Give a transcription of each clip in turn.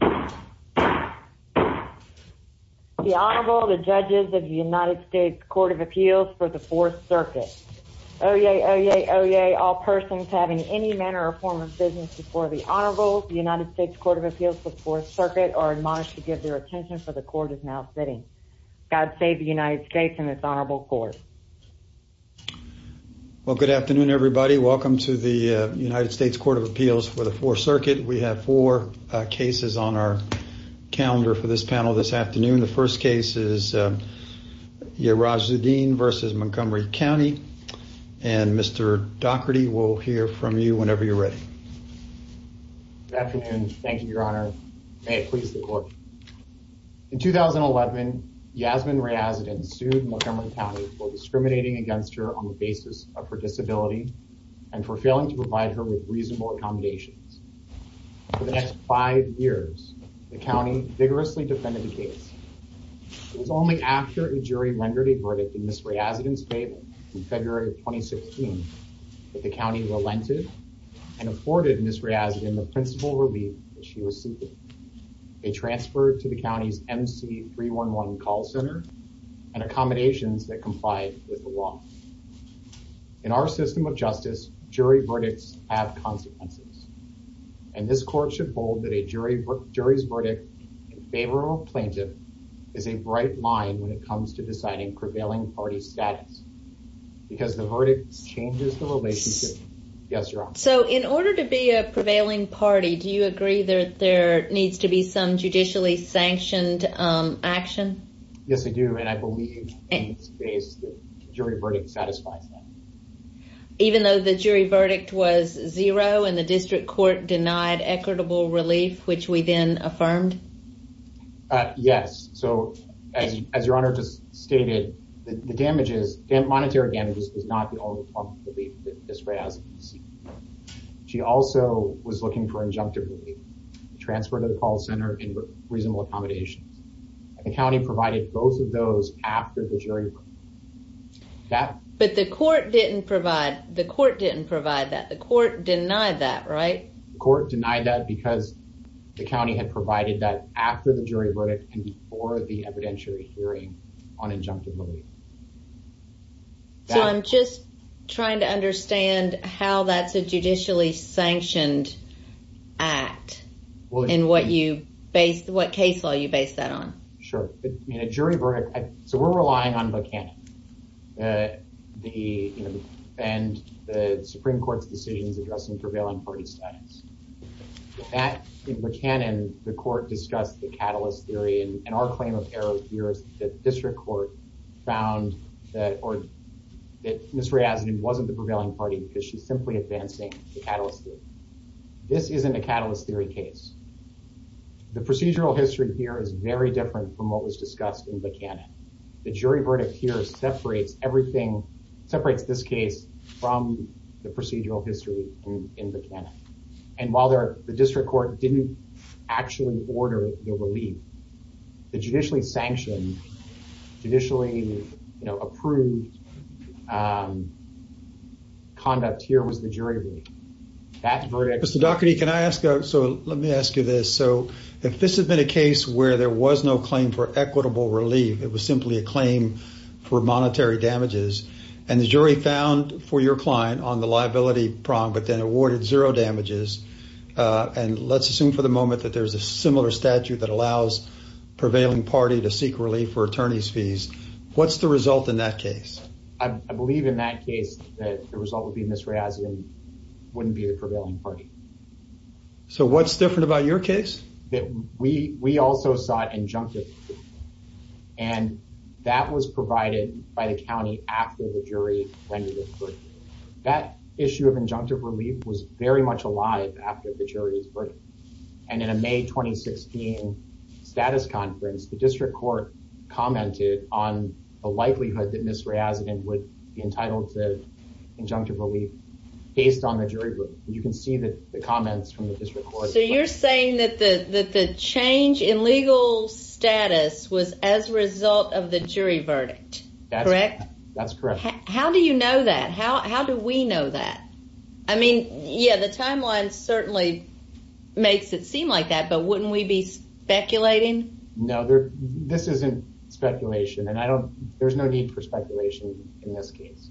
The Honorable, the Judges of the United States Court of Appeals for the 4th Circuit. Oyez, oyez, oyez, all persons having any manner or form of business before the Honorable, the United States Court of Appeals for the 4th Circuit are admonished to give their attention for the Court is now sitting. God save the United States and this Honorable Court. Well, good afternoon everybody. We have four cases on our calendar for this panel this afternoon. The first case is Yerazuddin v. Montgomery County. And Mr. Dougherty will hear from you whenever you're ready. Good afternoon. Thank you, Your Honor. May it please the Court. In 2011, Yazmin Reyazuddin sued Montgomery County for discriminating against her on the basis of her disability and for failing to provide her with reasonable accommodations. For the next five years, the county vigorously defended the case. It was only after a jury rendered a verdict in Ms. Reyazuddin's favor in February of 2016 that the county relented and afforded Ms. Reyazuddin the principal relief that she was seeking. They transferred to the county's MC311 call center and accommodations that complied with the law. In our system of justice, jury verdicts have consequences. And this Court should hold that a jury's verdict in favor of a plaintiff is a bright line when it comes to deciding prevailing party status. Because the verdict changes the relationship. Yes, Your Honor. So in order to be a prevailing party, do you agree that there needs to be some judicially sanctioned action? Yes, I do. And I believe in this case the jury verdict satisfies that. Even though the jury verdict was zero and the district court denied equitable relief, which we then affirmed? Yes. So as Your Honor just stated, the damages, the monetary damages, is not the only form of relief that Ms. Reyazuddin is seeking. She also was looking for injunctive relief, transfer to the call center, and reasonable accommodations. The county provided both of those after the jury verdict. But the court didn't provide that. The court denied that, right? The court denied that because the county had provided that after the jury verdict and before the evidentiary hearing on injunctive relief. So I'm just trying to understand how that's a judicially sanctioned act and what case law you base that on. Sure. So we're relying on Buchanan and the Supreme Court's decisions addressing prevailing party status. In Buchanan, the court discussed the catalyst theory. And our claim of error here is that the district court found that Ms. Reyazuddin wasn't the prevailing party because she's simply advancing the catalyst theory. This isn't a catalyst theory case. The procedural history here is very different from what was discussed in Buchanan. The jury verdict here separates everything, separates this case from the procedural history in Buchanan. And while the district court didn't actually order the relief, the judicially sanctioned, judicially approved conduct here was the jury relief. Mr. Daugherty, can I ask? So let me ask you this. So if this had been a case where there was no claim for equitable relief, it was simply a claim for monetary damages. And the jury found for your client on the liability prong, but then awarded zero damages. And let's assume for the moment that there is a similar statute that allows prevailing party to seek relief for attorney's fees. What's the result in that case? I believe in that case that the result would be Ms. Reyazuddin wouldn't be the prevailing party. So what's different about your case? We also sought injunctive relief. And that was provided by the county after the jury rendered its verdict. That issue of injunctive relief was very much alive after the jury's verdict. And in a May 2016 status conference, the district court commented on the likelihood that Ms. Reyazuddin would be entitled to injunctive relief based on the jury. You can see that the comments from the district court. So you're saying that the change in legal status was as a result of the jury verdict. That's correct. How do you know that? How do we know that? I mean, yeah, the timeline certainly makes it seem like that. But wouldn't we be speculating? No, this isn't speculation. And I don't there's no need for speculation in this case.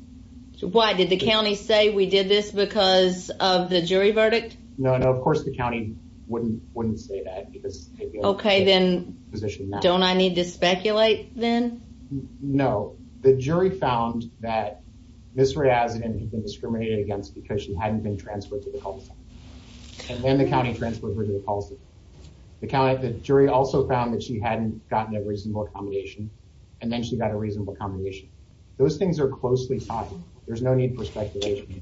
So why did the county say we did this because of the jury verdict? No, no. Of course, the county wouldn't wouldn't say that. OK, then don't I need to speculate then? No. The jury found that Ms. Reyazuddin had been discriminated against because she hadn't been transferred to the cul-de-sac. And then the county transferred her to the cul-de-sac. The jury also found that she hadn't gotten a reasonable accommodation. And then she got a reasonable accommodation. Those things are closely tied. There's no need for speculation.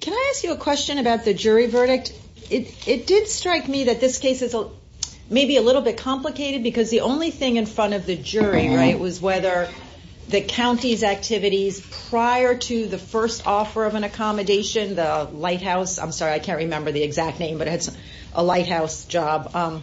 Can I ask you a question about the jury verdict? It did strike me that this case is maybe a little bit complicated because the only thing in front of the jury. Right. Was whether the county's activities prior to the first offer of an accommodation, the lighthouse. I'm sorry, I can't remember the exact name, but it's a lighthouse job,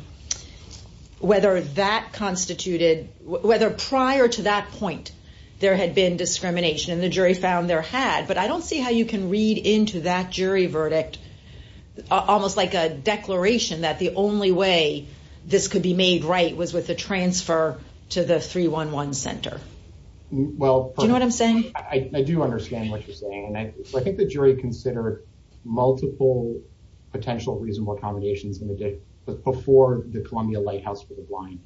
whether that constituted whether prior to that point there had been discrimination. And the jury found there had. But I don't see how you can read into that jury verdict. Almost like a declaration that the only way this could be made right was with the transfer to the 3-1-1 center. Well, you know what I'm saying? I do understand what you're saying. And I think the jury considered multiple potential reasonable accommodations in the day before the Columbia lighthouse for the blind.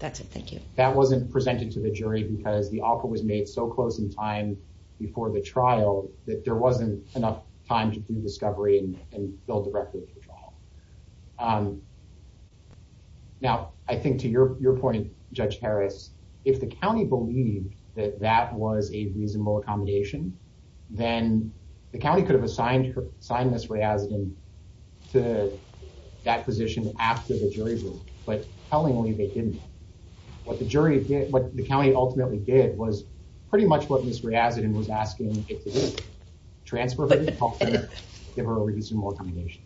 That's it. Thank you. That wasn't presented to the jury because the offer was made so close in time before the trial that there wasn't enough time to do discovery and build a record. Now, I think to your point, Judge Harris, if the county believed that that was a reasonable accommodation, then the county could have assigned her sign this way as to that position after the jury. But tellingly, they didn't. What the jury did, what the county ultimately did was pretty much what Ms. Riazadin was asking it to do, transfer her to the 3-1-1 center, give her a reasonable accommodation.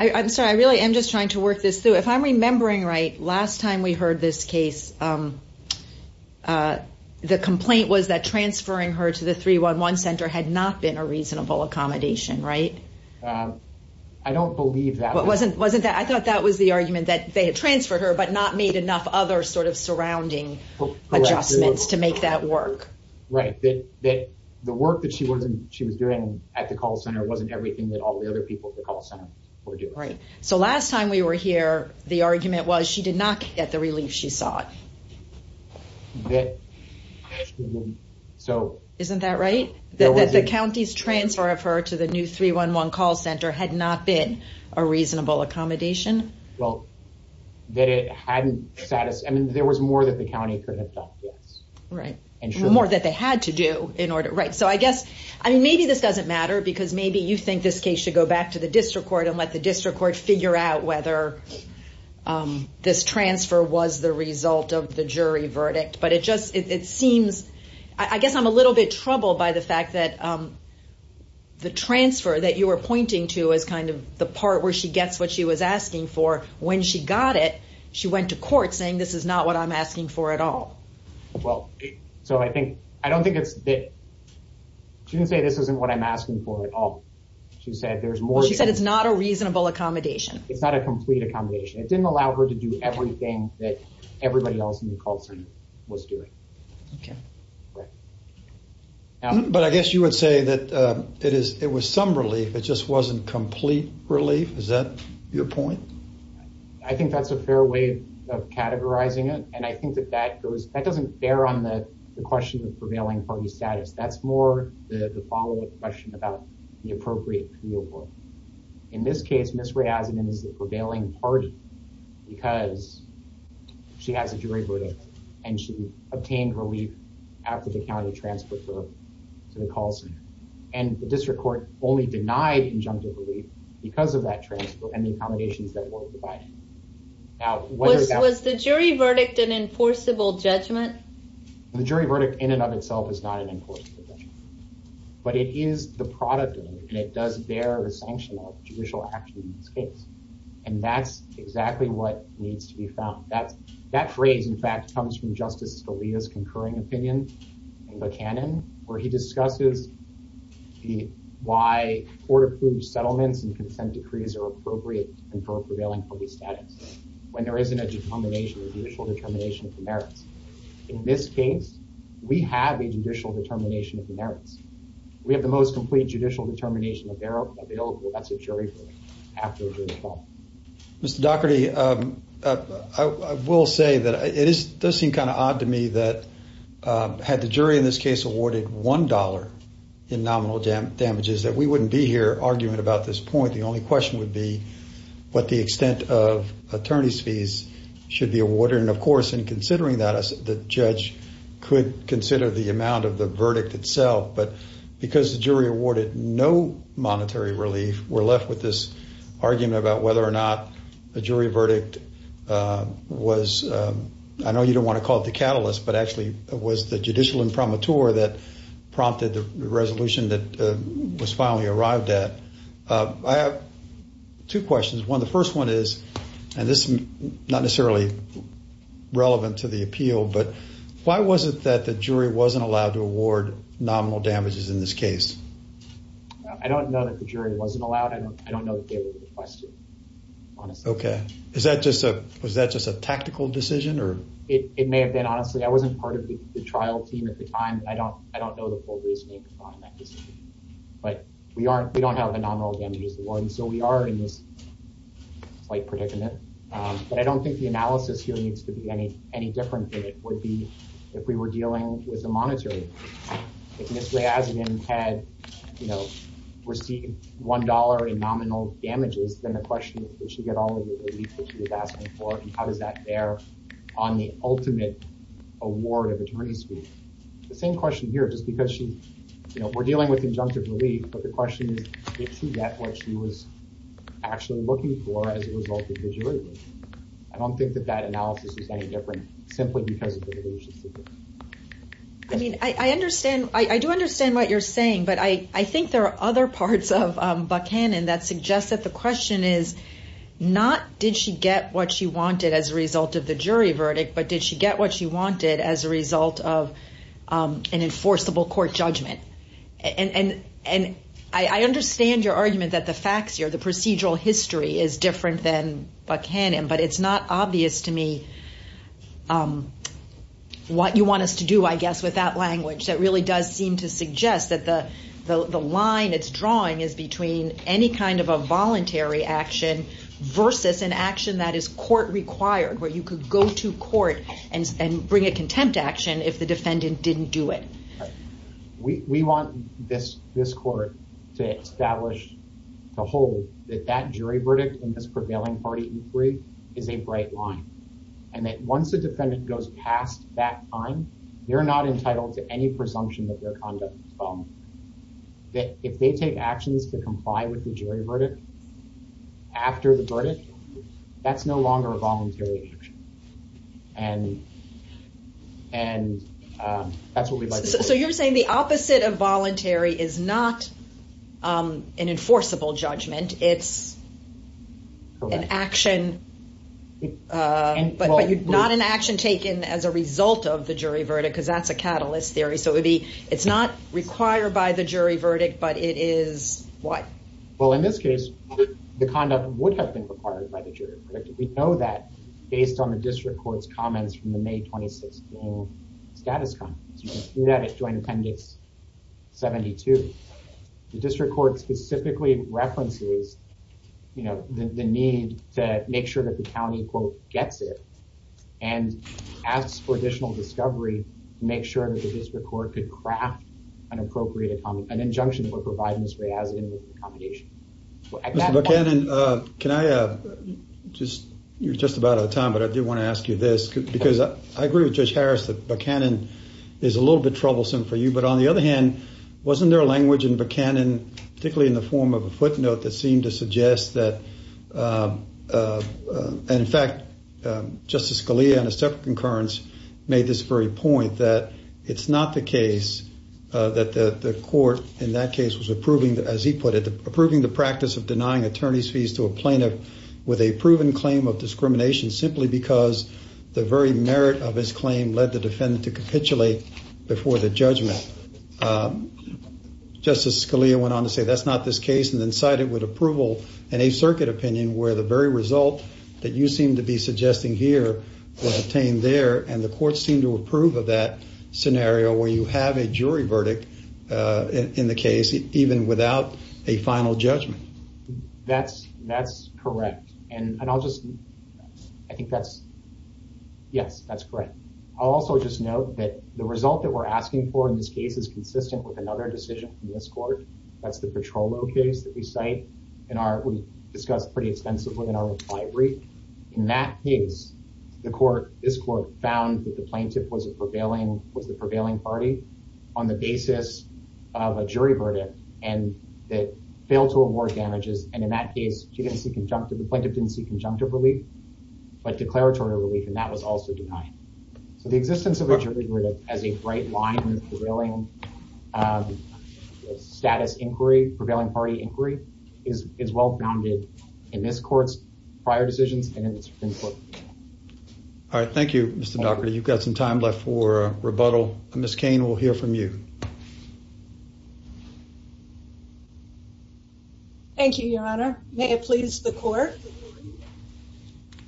I'm sorry, I really am just trying to work this through. If I'm remembering right, last time we heard this case, the complaint was that transferring her to the 3-1-1 center had not been a reasonable accommodation, right? I don't believe that. I thought that was the argument, that they had transferred her but not made enough other sort of surrounding adjustments to make that work. Right. That the work that she was doing at the call center wasn't everything that all the other people at the call center were doing. Right. So last time we were here, the argument was she did not get the relief she sought. Isn't that right? That the county's transfer of her to the new 3-1-1 call center had not been a reasonable accommodation? Well, that it hadn't satisfied, I mean, there was more that the county could have done, yes. Right. More that they had to do in order, right. So I guess, I mean, maybe this doesn't matter because maybe you think this case should go back to the district court and let the district court figure out whether this transfer was the result of the jury verdict. But it just, it seems, I guess I'm a little bit troubled by the fact that the transfer that you were pointing to is kind of the part where she gets what she was asking for. When she got it, she went to court saying, this is not what I'm asking for at all. Well, so I think, I don't think it's, she didn't say this isn't what I'm asking for at all. She said there's more. She said it's not a reasonable accommodation. It's not a complete accommodation. It didn't allow her to do everything that everybody else in the call center was doing. Okay. Right. But I guess you would say that it is, it was some relief. It just wasn't complete relief. Is that your point? I think that's a fair way of categorizing it. And I think that that goes, that doesn't bear on the question of prevailing party status. That's more the follow up question about the appropriate appeal. In this case, Ms. Raisman is the prevailing party because she has a jury verdict and she obtained relief after the county transferred her to the call center. And the district court only denied injunctive relief because of that transfer and the accommodations that were provided. Was the jury verdict an enforceable judgment? The jury verdict in and of itself is not an enforceable judgment. But it is the product of it and it does bear the sanction of judicial action in this case. And that's exactly what needs to be found. That phrase, in fact, comes from Justice Scalia's concurring opinion in Buchanan where he discusses why court approved settlements and consent decrees are appropriate and for a prevailing party status. When there isn't a determination, a judicial determination of the merits. In this case, we have a judicial determination of the merits. We have the most complete judicial determination available. That's a jury verdict after a jury call. Mr. Dougherty, I will say that it does seem kind of odd to me that had the jury in this case awarded $1 in nominal damages that we wouldn't be here arguing about this point. The only question would be what the extent of attorney's fees should be awarded. And, of course, in considering that, the judge could consider the amount of the verdict itself. But because the jury awarded no monetary relief, we're left with this argument about whether or not the jury verdict was, I know you don't want to call it the catalyst, but actually it was the judicial imprimatur that prompted the resolution that was finally arrived at. I have two questions. One, the first one is, and this is not necessarily relevant to the appeal, but why was it that the jury wasn't allowed to award nominal damages in this case? I don't know that the jury wasn't allowed. I don't know that they were requested, honestly. Okay. Was that just a tactical decision? It may have been. Honestly, I wasn't part of the trial team at the time. I don't know the full reasoning behind that decision. But we don't have a nominal damages award, and so we are in this slight predicament. But I don't think the analysis here needs to be any different than it would be if we were dealing with a monetary. If Ms. Glyazgin had received $1 in nominal damages, then the question is, did she get all of the relief that she was asking for, and how does that bear on the ultimate award of attorney's fees? The same question here, just because we're dealing with injunctive relief, but the question is, did she get what she was actually looking for as a result of the jury verdict? I don't think that that analysis is any different simply because of the relationship. I mean, I do understand what you're saying, but I think there are other parts of Buchanan that suggest that the question is not, did she get what she wanted as a result of the jury verdict, but did she get what she wanted as a result of an enforceable court judgment? And I understand your argument that the facts here, the procedural history is different than Buchanan, but it's not obvious to me what you want us to do, I guess, with that language. That really does seem to suggest that the line it's drawing is between any kind of a voluntary action versus an action that is court-required, where you could go to court and bring a contempt action if the defendant didn't do it. We want this court to hold that that jury verdict in this prevailing party inquiry is a bright line, and that once the defendant goes past that time, they're not entitled to any presumption of their conduct. If they take actions to comply with the jury verdict after the verdict, that's no longer a voluntary action. And that's what we'd like to do. So you're saying the opposite of voluntary is not an enforceable judgment. It's an action, but not an action taken as a result of the jury verdict, because that's a catalyst theory. So it's not required by the jury verdict, but it is what? Well, in this case, the conduct would have been required by the jury verdict. We know that based on the district court's comments from the May 2016 status comments. You can see that at Joint Appendix 72. The district court specifically references the need to make sure that the county, quote, gets it, and asks for additional discovery to make sure that the district court could craft an appropriate, an injunction that would provide Ms. Reazan with accommodation. Mr. Buchanan, can I just, you're just about out of time, but I do want to ask you this, because I agree with Judge Harris that Buchanan is a little bit troublesome for you. But on the other hand, wasn't there a language in Buchanan, particularly in the form of a footnote, that seemed to suggest that, and in fact, Justice Scalia, in a separate concurrence, made this very point that it's not the case that the court in that case was approving, as he put it, approving the practice of denying attorney's fees to a plaintiff with a proven claim of discrimination simply because the very merit of his claim led the defendant to capitulate before the judgment. Justice Scalia went on to say that's not this case, and then cited with approval an Eighth Circuit opinion where the very result that you seem to be suggesting here was obtained there, and the courts seem to approve of that scenario where you have a jury verdict in the case, even without a final judgment. That's correct, and I'll just, I think that's, yes, that's correct. I'll also just note that the result that we're asking for in this case is consistent with another decision from this court. That's the Petrollo case that we cite in our, we discussed pretty extensively in our reply brief. In that case, the court, this court, found that the plaintiff was a prevailing, was the prevailing party on the basis of a jury verdict and that failed to award damages. And in that case, she didn't see conjunctive, the plaintiff didn't see conjunctive relief, but declaratory relief, and that was also denied. So the existence of a jury verdict as a bright line in prevailing status inquiry, prevailing party inquiry, is well-founded in this court's prior decisions and in the Supreme Court. All right, thank you, Mr. Dougherty. You've got some time left for rebuttal. Ms. Cain, we'll hear from you. Thank you, Your Honor. May it please the court.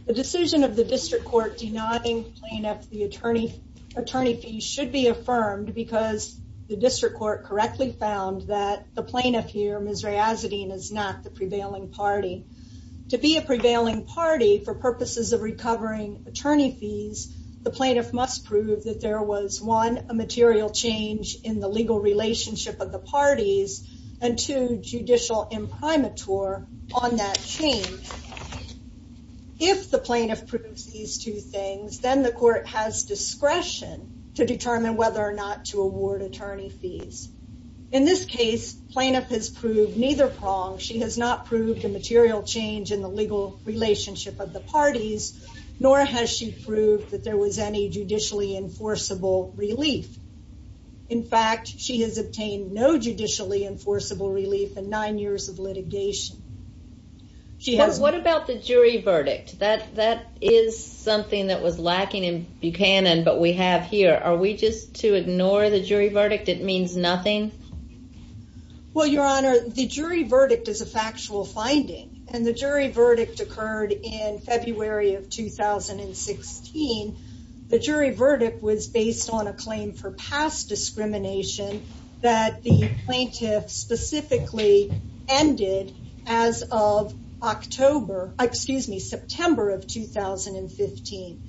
The decision of the district court denoting plaintiff, the attorney, attorney fee should be affirmed because the district court correctly found that the plaintiff here, Ms. Razadin, is not the prevailing party. To be a prevailing party, for purposes of recovering attorney fees, the plaintiff must prove that there was, one, a material change in the legal relationship of the parties, and two, judicial imprimatur on that change. If the plaintiff proves these two things, then the court has discretion to determine whether or not to award attorney fees. In this case, plaintiff has proved neither prong. She has not proved a material change in the legal relationship of the parties, nor has she proved that there was any judicially enforceable relief. In fact, she has obtained no judicially enforceable relief in nine years of litigation. What about the jury verdict? That is something that was lacking in Buchanan, but we have here. Are we just to ignore the jury verdict? It means nothing? Well, Your Honor, the jury verdict is a factual finding, and the jury verdict occurred in February of 2016. The jury verdict was based on a claim for past discrimination that the plaintiff specifically ended as of September of 2015.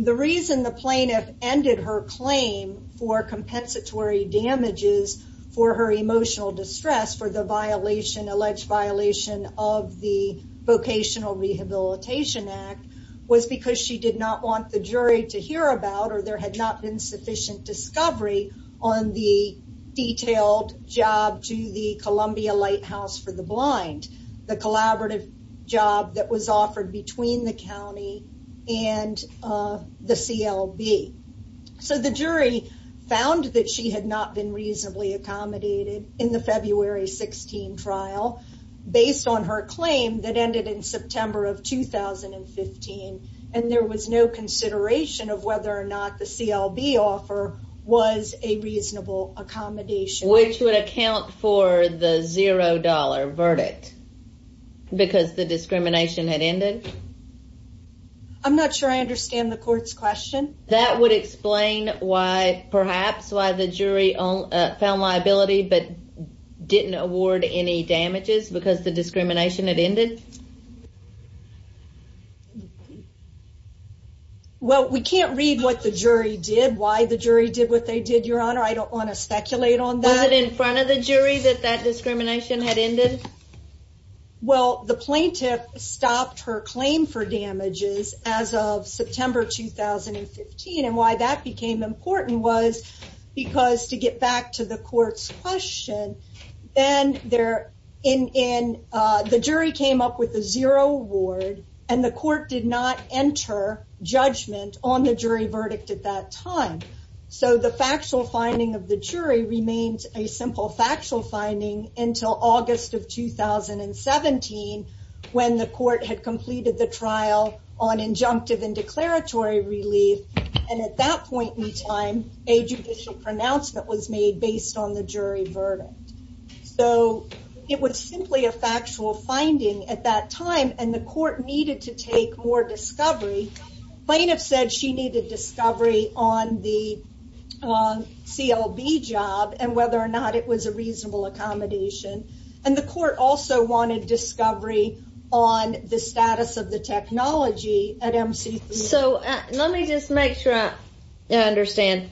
The reason the plaintiff ended her claim for compensatory damages for her emotional distress for the alleged violation of the Vocational Rehabilitation Act was because she did not want the jury to hear about, or there had not been sufficient discovery, on the detailed job to the Columbia Lighthouse for the Blind, the collaborative job that was offered between the county and the CLB. So the jury found that she had not been reasonably accommodated in the February 16 trial, based on her claim that ended in September of 2015, and there was no consideration of whether or not the CLB offer was a reasonable accommodation. Which would account for the zero dollar verdict, because the discrimination had ended? I'm not sure I understand the court's question. That would explain, perhaps, why the jury found liability, but didn't award any damages because the discrimination had ended? Well, we can't read what the jury did, why the jury did what they did, Your Honor. I don't want to speculate on that. Was it in front of the jury that that discrimination had ended? Well, the plaintiff stopped her claim for damages as of September 2015, and why that became important was because, to get back to the court's question, the jury came up with a zero award, and the court did not enter judgment on the jury verdict at that time. So, the factual finding of the jury remained a simple factual finding until August of 2017, when the court had completed the trial on injunctive and declaratory relief, and at that point in time, a judicial pronouncement was made based on the jury verdict. So, it was simply a factual finding at that time, and the court needed to take more discovery. The plaintiff said she needed discovery on the CLB job and whether or not it was a reasonable accommodation, and the court also wanted discovery on the status of the technology at MCC. So, let me just make sure I understand.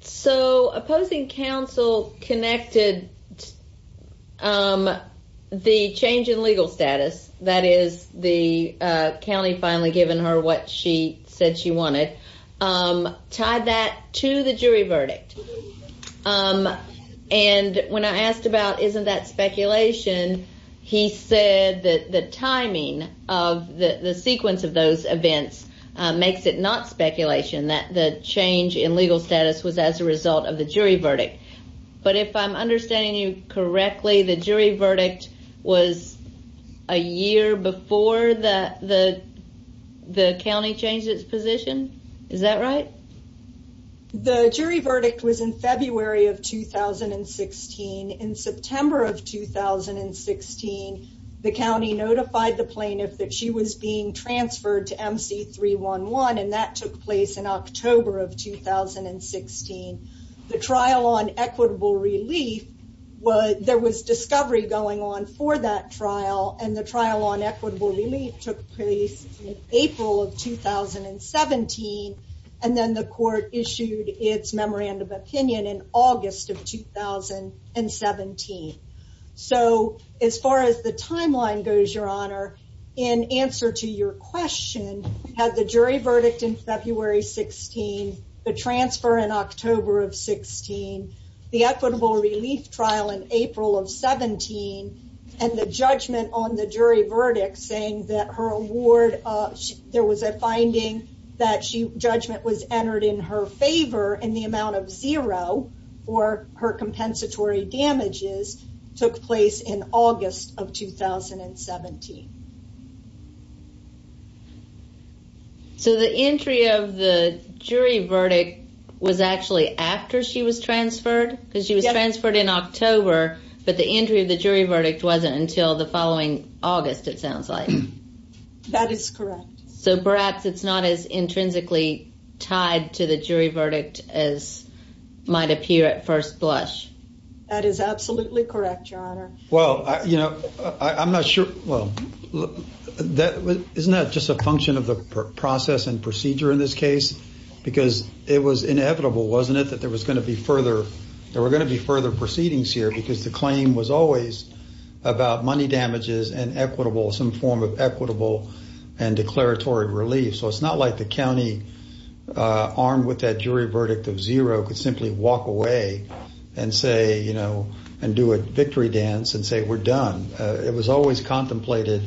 So, opposing counsel connected the change in legal status, that is, the county finally giving her what she said she wanted, tied that to the jury verdict, and when I asked about, isn't that speculation, he said that the timing of the sequence of those events makes it not speculation, that the change in legal status was as a result of the jury verdict. But if I'm understanding you correctly, the jury verdict was a year before the county changed its position? Is that right? The jury verdict was in February of 2016. In September of 2016, the county notified the plaintiff that she was being transferred to MC311, and that took place in October of 2016. The trial on equitable relief, there was discovery going on for that trial, and the trial on equitable relief took place in April of 2017, and then the court issued its memorandum of opinion in August of 2017. So, as far as the timeline goes, Your Honor, in answer to your question, had the jury verdict in February 16, the transfer in October of 16, the equitable relief trial in April of 17, and the judgment on the jury verdict saying that there was a finding that judgment was entered in her favor in the amount of zero for her compensatory damages took place in August of 2017. So the entry of the jury verdict was actually after she was transferred? Because she was transferred in October, but the entry of the jury verdict wasn't until the following August, it sounds like. That is correct. So perhaps it's not as intrinsically tied to the jury verdict as might appear at first blush. That is absolutely correct, Your Honor. Well, you know, I'm not sure. Isn't that just a function of the process and procedure in this case? Because it was inevitable, wasn't it, that there were going to be further proceedings here because the claim was always about money damages and some form of equitable and declaratory relief. So it's not like the county, armed with that jury verdict of zero, could simply walk away and say, you know, and do a victory dance and say we're done. It was always contemplated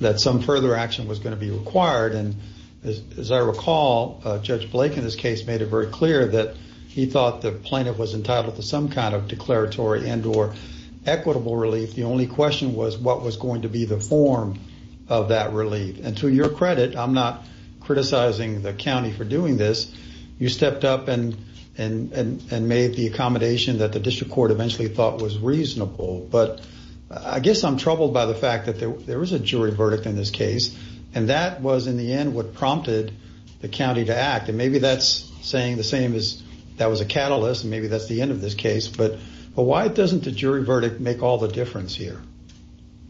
that some further action was going to be required. And as I recall, Judge Blake in this case made it very clear that he thought the plaintiff was entitled to some kind of declaratory and or equitable relief. The only question was what was going to be the form of that relief. And to your credit, I'm not criticizing the county for doing this. You stepped up and made the accommodation that the district court eventually thought was reasonable. But I guess I'm troubled by the fact that there is a jury verdict in this case. And that was, in the end, what prompted the county to act. And maybe that's saying the same as that was a catalyst. Maybe that's the end of this case. But why doesn't the jury verdict make all the difference here?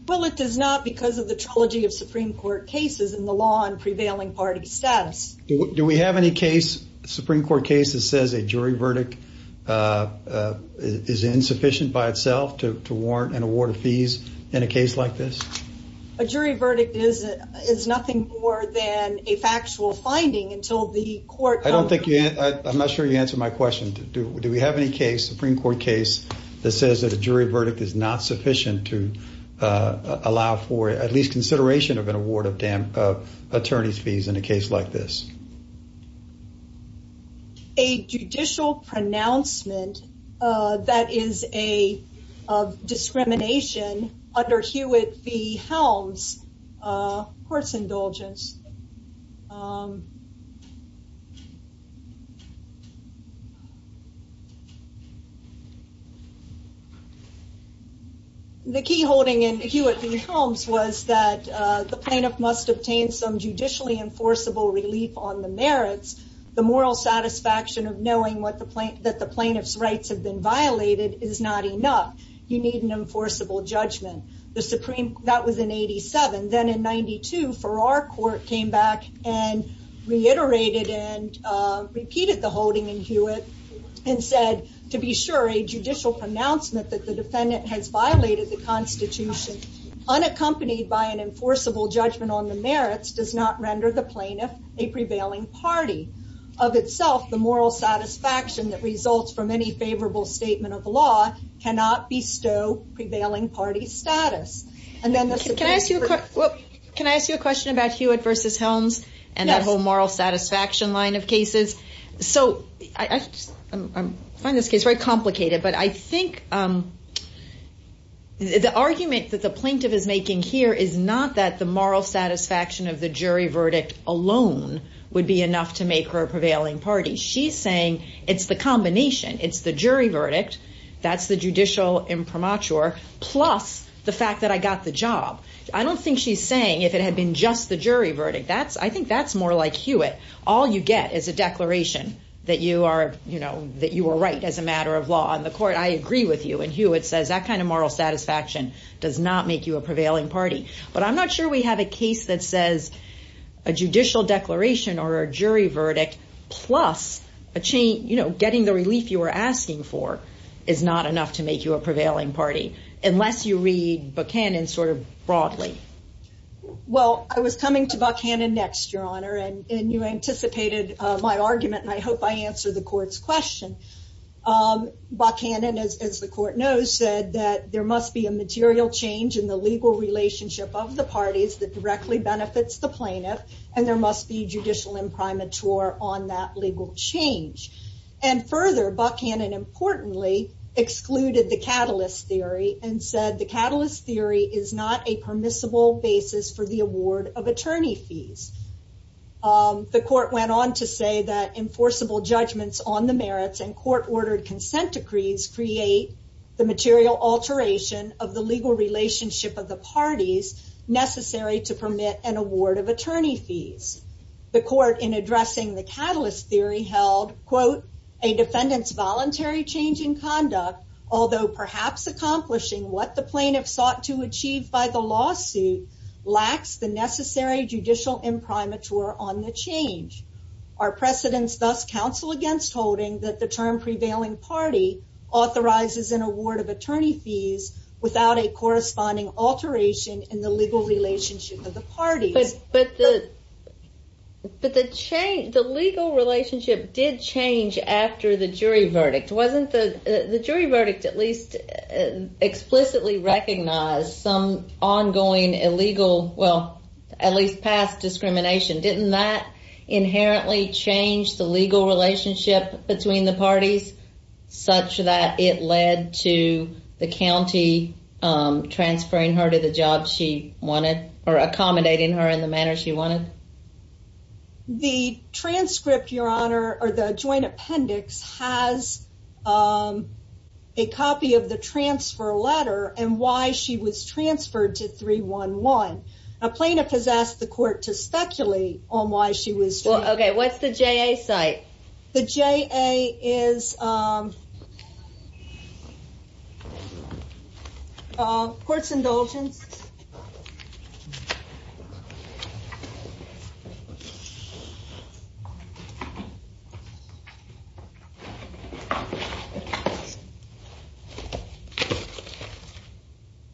Well, it does not because of the trilogy of Supreme Court cases and the law and prevailing party status. Do we have any case, Supreme Court case, that says a jury verdict is insufficient by itself to warrant an award of fees in a case like this? A jury verdict is nothing more than a factual finding until the court. I'm not sure you answered my question. Do we have any case, Supreme Court case, that says that a jury verdict is not sufficient to allow for at least consideration of an award of attorneys' fees in a case like this? A judicial pronouncement that is of discrimination under Hewitt v. Helms court's indulgence. The key holding in Hewitt v. Helms was that the plaintiff must obtain some judicially enforceable relief on the merits. The moral satisfaction of knowing that the plaintiff's rights have been violated is not enough. You need an enforceable judgment. That was in 87. Then in 92, Farrar court came back and reiterated and repeated the holding in Hewitt and said, to be sure, a judicial pronouncement that the defendant has violated the Constitution unaccompanied by an enforceable judgment on the merits does not render the plaintiff a prevailing party. Of itself, the moral satisfaction that results from any favorable statement of law cannot bestow prevailing party status. Can I ask you a question about Hewitt v. Helms and that whole moral satisfaction line of cases? I find this case very complicated, but I think the argument that the plaintiff is making here is not that the moral satisfaction of the jury verdict alone would be enough to make her a prevailing party. She's saying it's the combination. It's the jury verdict, that's the judicial imprimatur, plus the fact that I got the job. I don't think she's saying if it had been just the jury verdict. I think that's more like Hewitt. All you get is a declaration that you are right as a matter of law. On the court, I agree with you. In Hewitt, it says that kind of moral satisfaction does not make you a prevailing party. But I'm not sure we have a case that says a judicial declaration or a jury verdict plus getting the relief you were asking for is not enough to make you a prevailing party, unless you read Buchanan sort of broadly. Well, I was coming to Buchanan next, Your Honor, and you anticipated my argument, and I hope I answer the court's question. Buchanan, as the court knows, said that there must be a material change in the legal relationship of the parties that directly benefits the plaintiff, and there must be judicial imprimatur on that legal change. And further, Buchanan, importantly, excluded the catalyst theory and said the catalyst theory is not a permissible basis for the award of attorney fees. The court went on to say that enforceable judgments on the merits and court-ordered consent decrees create the material alteration of the legal relationship of the parties necessary to permit an award of attorney fees. The court, in addressing the catalyst theory, held, quote, a defendant's voluntary change in conduct, although perhaps accomplishing what the plaintiff sought to achieve by the lawsuit, lacks the necessary judicial imprimatur on the change. Our precedents thus counsel against holding that the term prevailing party authorizes an award of attorney fees without a corresponding alteration in the legal relationship of the parties. But the legal relationship did change after the jury verdict. Wasn't the jury verdict at least explicitly recognized some ongoing illegal, well, at least past discrimination? Didn't that inherently change the legal relationship between the parties such that it led to the county transferring her to the job she wanted or accommodating her in the manner she wanted? The transcript, Your Honor, or the joint appendix has a copy of the transfer letter and why she was transferred to 311. A plaintiff has asked the court to speculate on why she was transferred. Okay, what's the JA cite?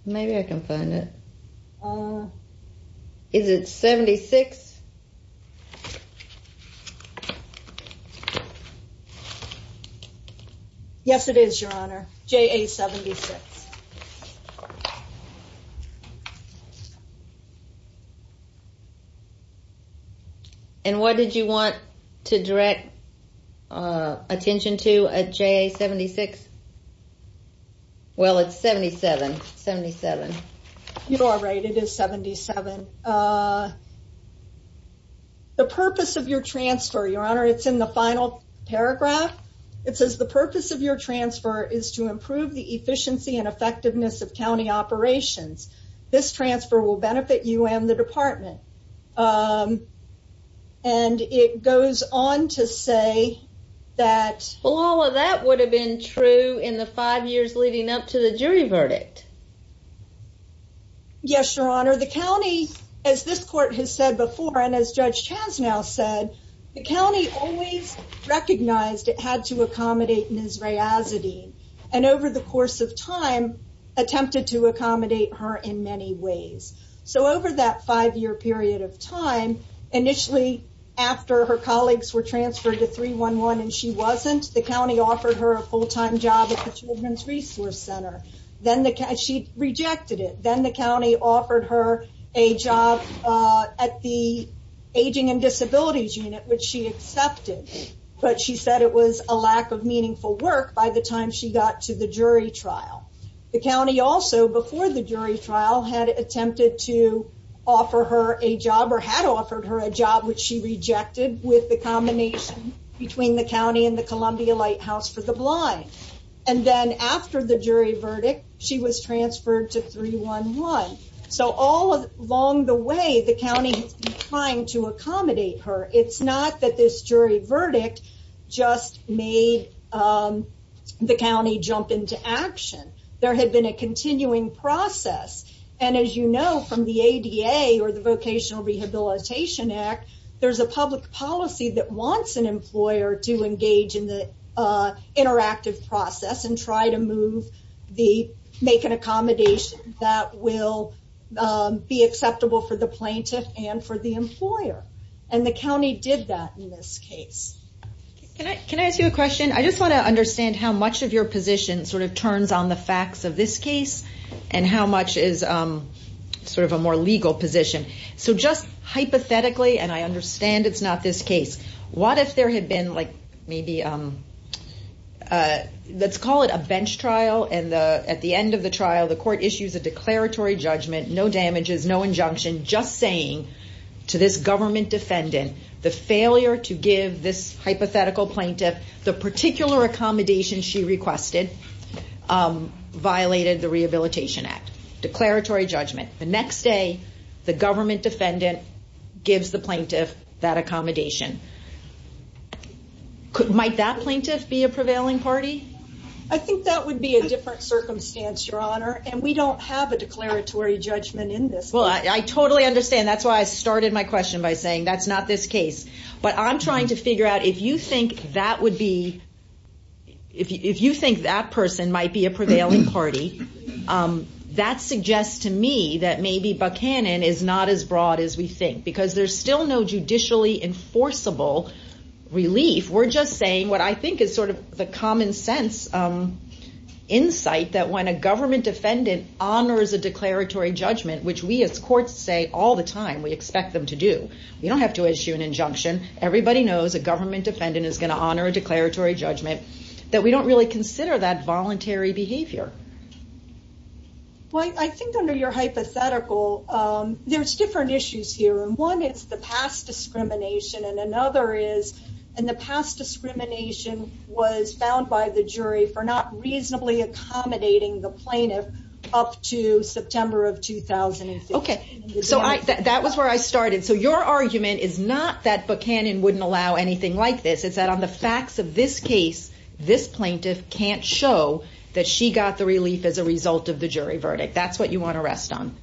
Maybe I can find it. Is it 76? Yes, it is, Your Honor. J.A. 76. And what did you want to direct attention to a J.A. 76? Well, it's 77. You are right, it is 77. The purpose of your transfer, Your Honor, it's in the final paragraph. It says the purpose of your transfer is to improve the efficiency and effectiveness of county operations. This transfer will benefit you and the department. And it goes on to say that... Yes, Your Honor. The county, as this court has said before and as Judge Chasnow said, the county always recognized it had to accommodate Ms. Rayazadeen. And over the course of time, attempted to accommodate her in many ways. So over that five-year period of time, initially after her colleagues were transferred to 311 and she wasn't, the county offered her a full-time job at the Children's Resource Center. She rejected it. Then the county offered her a job at the Aging and Disabilities Unit, which she accepted. But she said it was a lack of meaningful work by the time she got to the jury trial. The county also, before the jury trial, had attempted to offer her a job or had offered her a job, which she rejected with the combination between the county and the Columbia Lighthouse for the Blind. And then after the jury verdict, she was transferred to 311. So all along the way, the county has been trying to accommodate her. It's not that this jury verdict just made the county jump into action. There had been a continuing process. And as you know from the ADA or the Vocational Rehabilitation Act, there's a public policy that wants an employer to engage in the interactive process and try to make an accommodation that will be acceptable for the plaintiff and for the employer. And the county did that in this case. Can I ask you a question? I just want to understand how much of your position sort of turns on the facts of this case and how much is sort of a more legal position. So just hypothetically, and I understand it's not this case, what if there had been like maybe let's call it a bench trial. And at the end of the trial, the court issues a declaratory judgment, no damages, no injunction, just saying to this government defendant the failure to give this hypothetical plaintiff the particular accommodation she requested violated the Rehabilitation Act. Declaratory judgment. The next day, the government defendant gives the plaintiff that accommodation. Might that plaintiff be a prevailing party? I think that would be a different circumstance, Your Honor, and we don't have a declaratory judgment in this case. Well, I totally understand. That's why I started my question by saying that's not this case. But I'm trying to figure out if you think that person might be a prevailing party, that suggests to me that maybe Buchanan is not as broad as we think, because there's still no judicially enforceable relief. We're just saying what I think is sort of the common sense insight that when a government defendant honors a declaratory judgment, which we as courts say all the time we expect them to do, we don't have to issue an injunction. Everybody knows a government defendant is going to honor a declaratory judgment, that we don't really consider that voluntary behavior. Well, I think under your hypothetical, there's different issues here. And one is the past discrimination, and another is the past discrimination was found by the jury for not reasonably accommodating the plaintiff up to September of 2015. OK. So that was where I started. So your argument is not that Buchanan wouldn't allow anything like this. It's that on the facts of this case, this plaintiff can't show that she got the relief as a result of the jury verdict. That's what you want to rest on.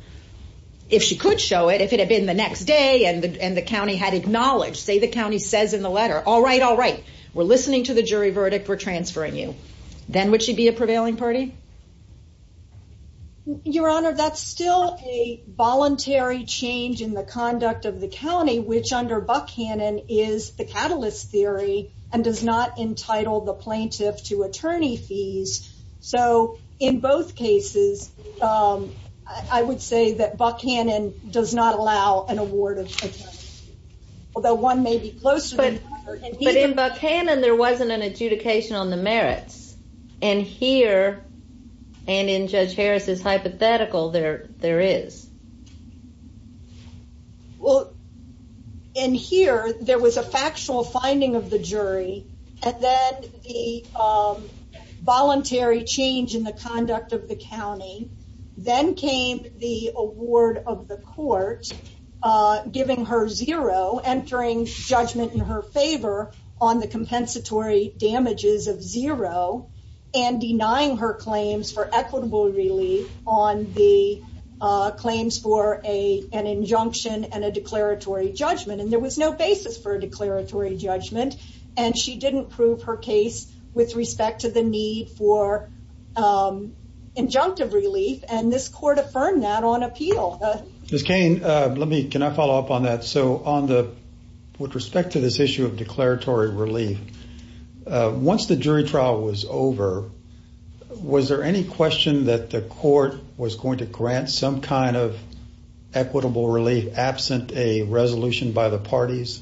If she could show it, if it had been the next day and the county had acknowledged, say the county says in the letter, all right, all right, we're listening to the jury verdict, we're transferring you, then would she be a prevailing party? Your Honor, that's still a voluntary change in the conduct of the county, which under Buchanan is the catalyst theory, and does not entitle the plaintiff to attorney fees. So in both cases, I would say that Buchanan does not allow an award of attorney fees. Although one may be closer. But in Buchanan there wasn't an adjudication on the merits. And here, and in Judge Harris's hypothetical, there is. Well, in here, there was a factual finding of the jury, and then the voluntary change in the conduct of the county. Then came the award of the court, giving her zero, entering judgment in her favor on the compensatory damages of zero, and denying her claims for equitable relief on the claims for an injunction and a declaratory judgment. And there was no basis for a declaratory judgment. And she didn't prove her case with respect to the need for injunctive relief, and this court affirmed that on appeal. Ms. Cain, let me, can I follow up on that? So on the, with respect to this issue of declaratory relief, once the jury trial was over, was there any question that the court was going to grant some kind of equitable relief absent a resolution by the parties?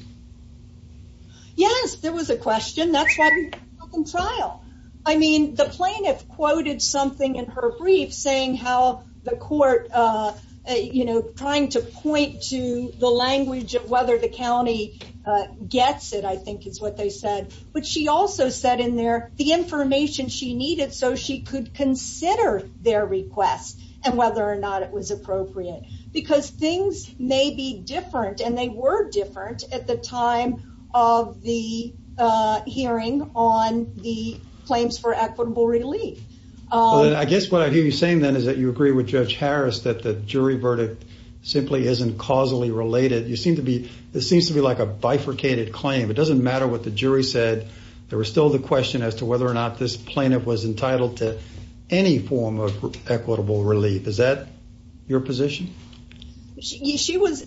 Yes, there was a question. That's why we put it in trial. I mean, the plaintiff quoted something in her brief saying how the court, you know, trying to point to the language of whether the county gets it, I think is what they said. But she also said in there the information she needed so she could consider their request and whether or not it was appropriate. Because things may be different, and they were different at the time of the hearing on the claims for equitable relief. I guess what I hear you saying then is that you agree with Judge Harris that the jury verdict simply isn't causally related. You seem to be, it seems to be like a bifurcated claim. It doesn't matter what the jury said. There was still the question as to whether or not this plaintiff was entitled to any form of equitable relief. Is that your position? She was,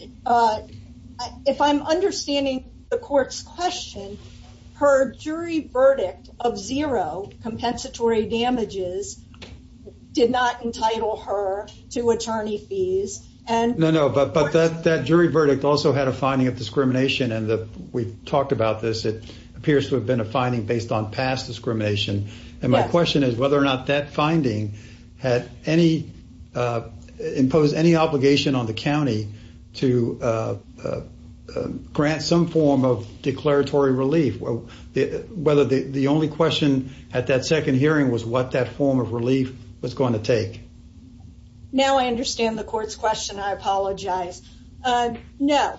if I'm understanding the court's question, her jury verdict of zero compensatory damages did not entitle her to attorney fees. No, no, but that jury verdict also had a finding of discrimination, and we've talked about this. It appears to have been a finding based on past discrimination. And my question is whether or not that finding had any, imposed any obligation on the county to grant some form of declaratory relief. Whether the only question at that second hearing was what that form of relief was going to take. Now I understand the court's question. I apologize. No,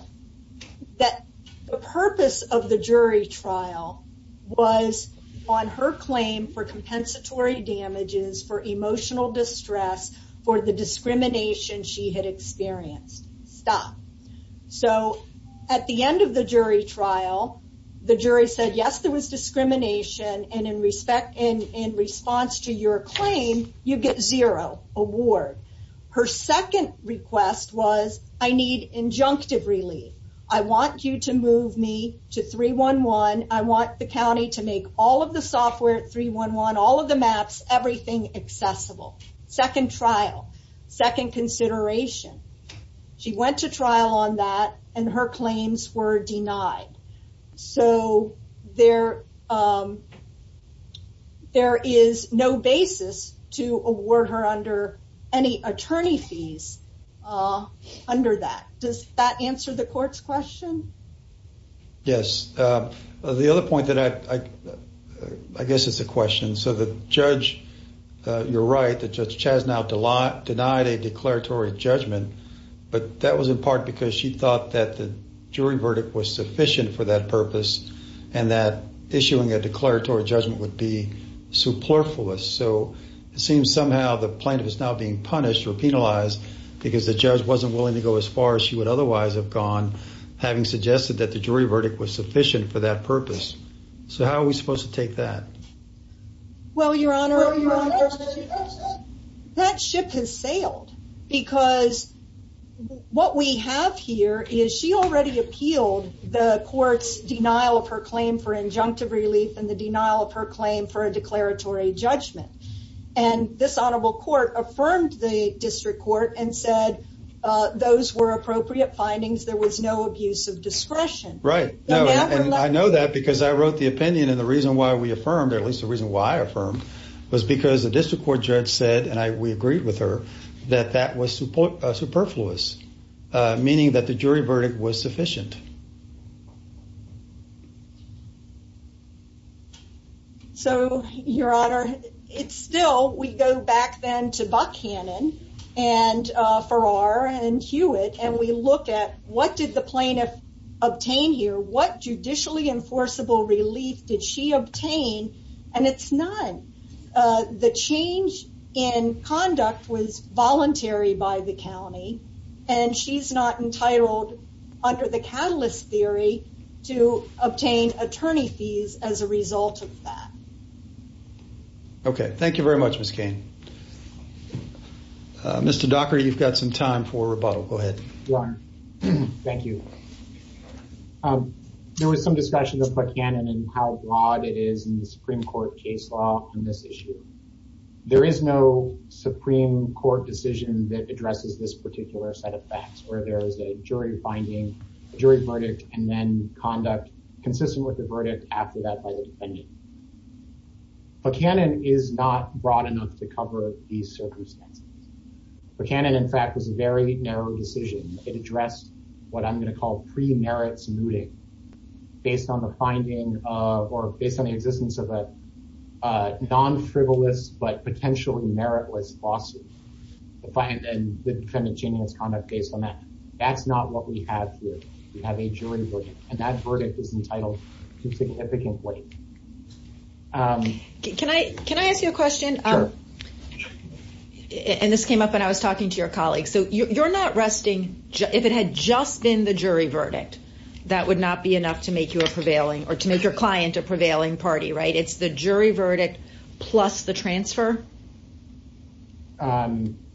that the purpose of the jury trial was on her claim for compensatory damages for emotional distress for the discrimination she had experienced. Stop. So at the end of the jury trial, the jury said, yes, there was discrimination, and in respect, in response to your claim, you get zero award. Her second request was, I need injunctive relief. I want you to move me to 311. I want the county to make all of the software at 311, all of the maps, everything accessible. Second trial, second consideration. She went to trial on that, and her claims were denied. So there is no basis to award her under any attorney fees under that. Does that answer the court's question? Yes. The other point that I, I guess it's a question. You're right. The judge has now denied a declaratory judgment, but that was in part because she thought that the jury verdict was sufficient for that purpose and that issuing a declaratory judgment would be superfluous. So it seems somehow the plaintiff is now being punished or penalized because the judge wasn't willing to go as far as she would otherwise have gone, having suggested that the jury verdict was sufficient for that purpose. So how are we supposed to take that? Well, Your Honor, that ship has sailed because what we have here is she already appealed the court's denial of her claim for injunctive relief and the denial of her claim for a declaratory judgment. And this honorable court affirmed the district court and said those were appropriate findings. There was no abuse of discretion. Right. I know that because I wrote the opinion and the reason why we affirmed, at least the reason why I affirmed, was because the district court judge said, and we agreed with her, that that was superfluous, meaning that the jury verdict was sufficient. So, Your Honor, it's still, we go back then to Buchanan and Farrar and Hewitt and we look at what did the plaintiff obtain here? What judicially enforceable relief did she obtain? And it's none. The change in conduct was voluntary by the county and she's not entitled under the catalyst theory to obtain attorney fees as a result of that. Okay. Thank you very much, Ms. Cain. Mr. Dockery, you've got some time for rebuttal. Go ahead. Your Honor, thank you. There was some discussion of Buchanan and how broad it is in the Supreme Court case law on this issue. There is no Supreme Court decision that addresses this particular set of facts where there is a jury finding, jury verdict, and then conduct consistent with the verdict after that by the defendant. Buchanan is not broad enough to cover these circumstances. Buchanan, in fact, was a very narrow decision. It addressed what I'm going to call pre-merits mooting based on the finding of, or based on the existence of a non-frivolous but potentially meritless lawsuit. The defendant changing its conduct based on that. That's not what we have here. We have a jury verdict and that verdict is entitled to significant weight. Can I ask you a question? Sure. And this came up when I was talking to your colleague. So, you're not resting, if it had just been the jury verdict, that would not be enough to make you a prevailing, or to make your client a prevailing party, right? It's the jury verdict plus the transfer?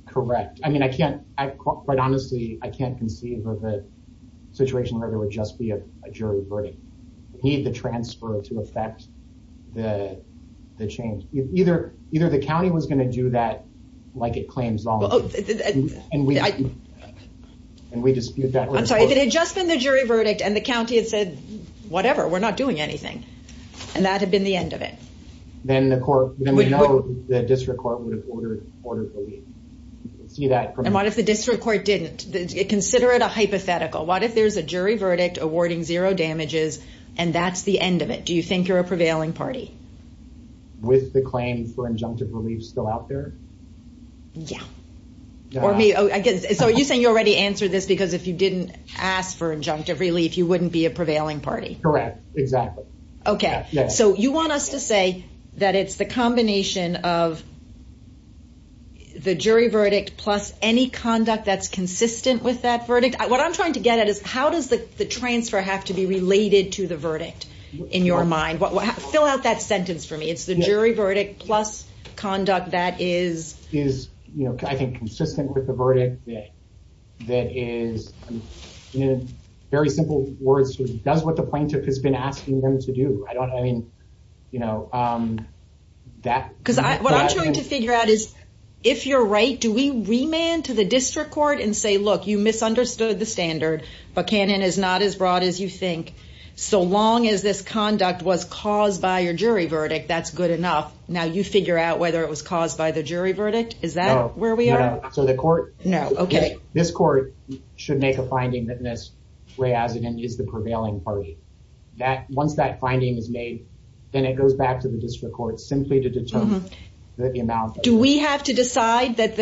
Correct. I mean, I can't, quite honestly, I can't conceive of a situation where there would just be a jury verdict. We need the transfer to affect the change. Either the county was going to do that, like it claims, and we dispute that. I'm sorry, if it had just been the jury verdict and the county had said, whatever, we're not doing anything, and that had been the end of it. Then we know the district court would have ordered the leave. And what if the district court didn't? Consider it a hypothetical. What if there's a jury verdict awarding zero damages and that's the end of it? Do you think you're a prevailing party? With the claim for injunctive relief still out there? Yeah. So, you're saying you already answered this because if you didn't ask for injunctive relief, you wouldn't be a prevailing party? Correct. Exactly. Okay. So, you want us to say that it's the combination of the jury verdict plus any conduct that's consistent with that verdict? What I'm trying to get at is how does the transfer have to be related to the verdict in your mind? Fill out that sentence for me. It's the jury verdict plus conduct that is... Is, I think, consistent with the verdict that is, in very simple words, does what the plaintiff has been asking them to do. I don't, I mean, you know, that... Because what I'm trying to figure out is if you're right, do we remand to the district court and say, look, you misunderstood the standard, but Canon is not as broad as you think. So long as this conduct was caused by your jury verdict, that's good enough. Now, you figure out whether it was caused by the jury verdict. Is that where we are? No. No. So, the court... No. Okay. This court should make a finding that Ms. Rehazen is the prevailing party. Once that finding is made, then it goes back to the district court simply to determine the amount... Do we have to decide that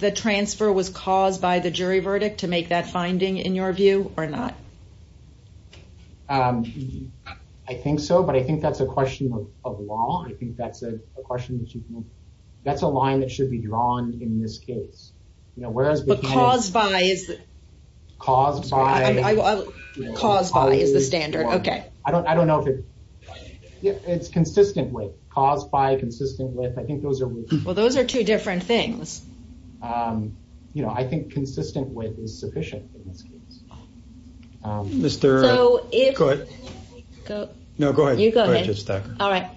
the transfer was caused by the jury verdict to make that finding, in your view, or not? I think so. But I think that's a question of law. I think that's a question that you can... That's a line that should be drawn in this case. But caused by is... Caused by... Caused by is the standard. Okay. I don't know if it... It's consistent with. Caused by, consistent with. I think those are... Well, those are two different things. You know, I think consistent with is sufficient in this case. Mr... So, if... Go ahead. No, go ahead. You go ahead. All right.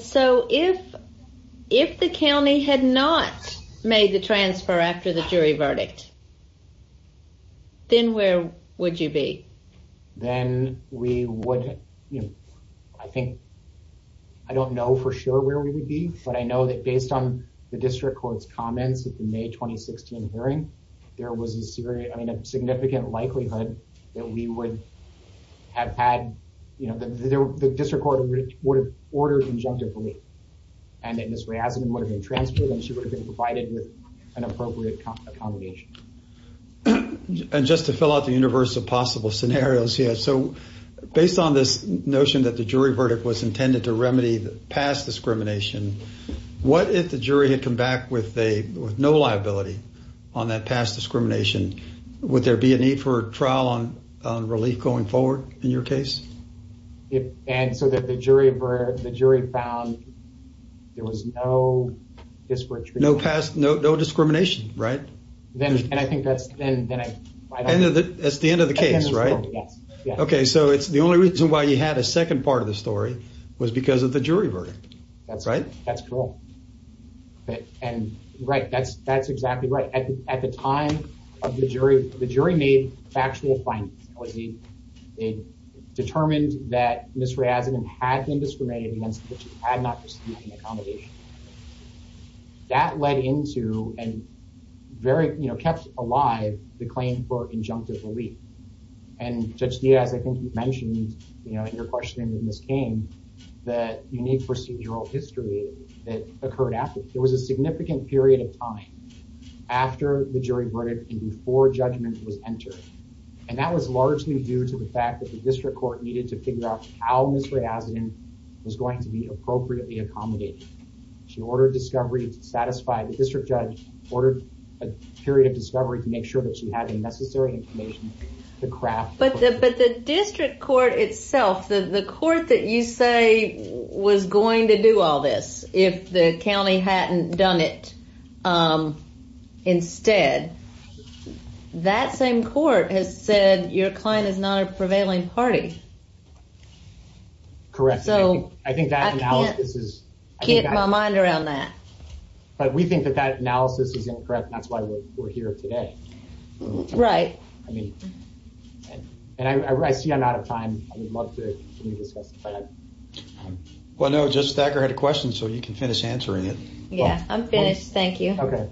So, if the county had not made the transfer after the jury verdict, then where would you be? Then we would... You know, I think... I don't know for sure where we would be, but I know that based on the district court's comments at the May 2016 hearing, there was a significant likelihood that we would have had... You know, the district court would have ordered injunctive relief. And that Ms. Reisman would have been transferred and she would have been provided with an appropriate accommodation. And just to fill out the universe of possible scenarios here. So, based on this notion that the jury verdict was intended to remedy past discrimination, what if the jury had come back with no liability on that past discrimination? Would there be a need for a trial on relief going forward in your case? And so that the jury found there was no disparate... No discrimination, right? And I think that's... That's the end of the case, right? Yes. Okay, so it's the only reason why you had a second part of the story was because of the jury verdict, right? That's correct. And, right, that's exactly right. At the time of the jury, the jury made factual findings. It determined that Ms. Reisman had been discriminated against, but she had not received an accommodation. That led into and very, you know, kept alive the claim for injunctive relief. And Judge Diaz, I think you mentioned, you know, in your question when this came, that unique procedural history that occurred after. There was a significant period of time after the jury verdict and before judgment was entered. And that was largely due to the fact that the district court needed to figure out how Ms. Reisman was going to be appropriately accommodated. She ordered discovery to satisfy the district judge, ordered a period of discovery to make sure that she had the necessary information to craft... But the district court itself, the court that you say was going to do all this if the county hadn't done it instead, that same court has said your client is not a prevailing party. Correct. So I think that analysis is... I can't get my mind around that. But we think that that analysis is incorrect. That's why we're here today. Right. I mean, and I see I'm out of time. I would love to discuss that. Well, no, Justice Thacker had a question, so you can finish answering it. Yeah, I'm finished. Thank you. Okay.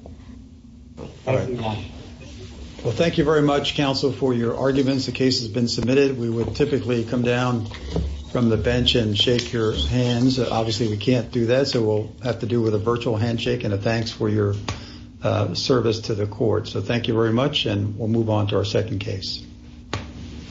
All right. Well, thank you very much, counsel, for your arguments. The case has been submitted. We would typically come down from the bench and shake your hands. Obviously, we can't do that, so we'll have to do it with a virtual handshake and a thanks for your service to the court. So thank you very much, and we'll move on to our second case.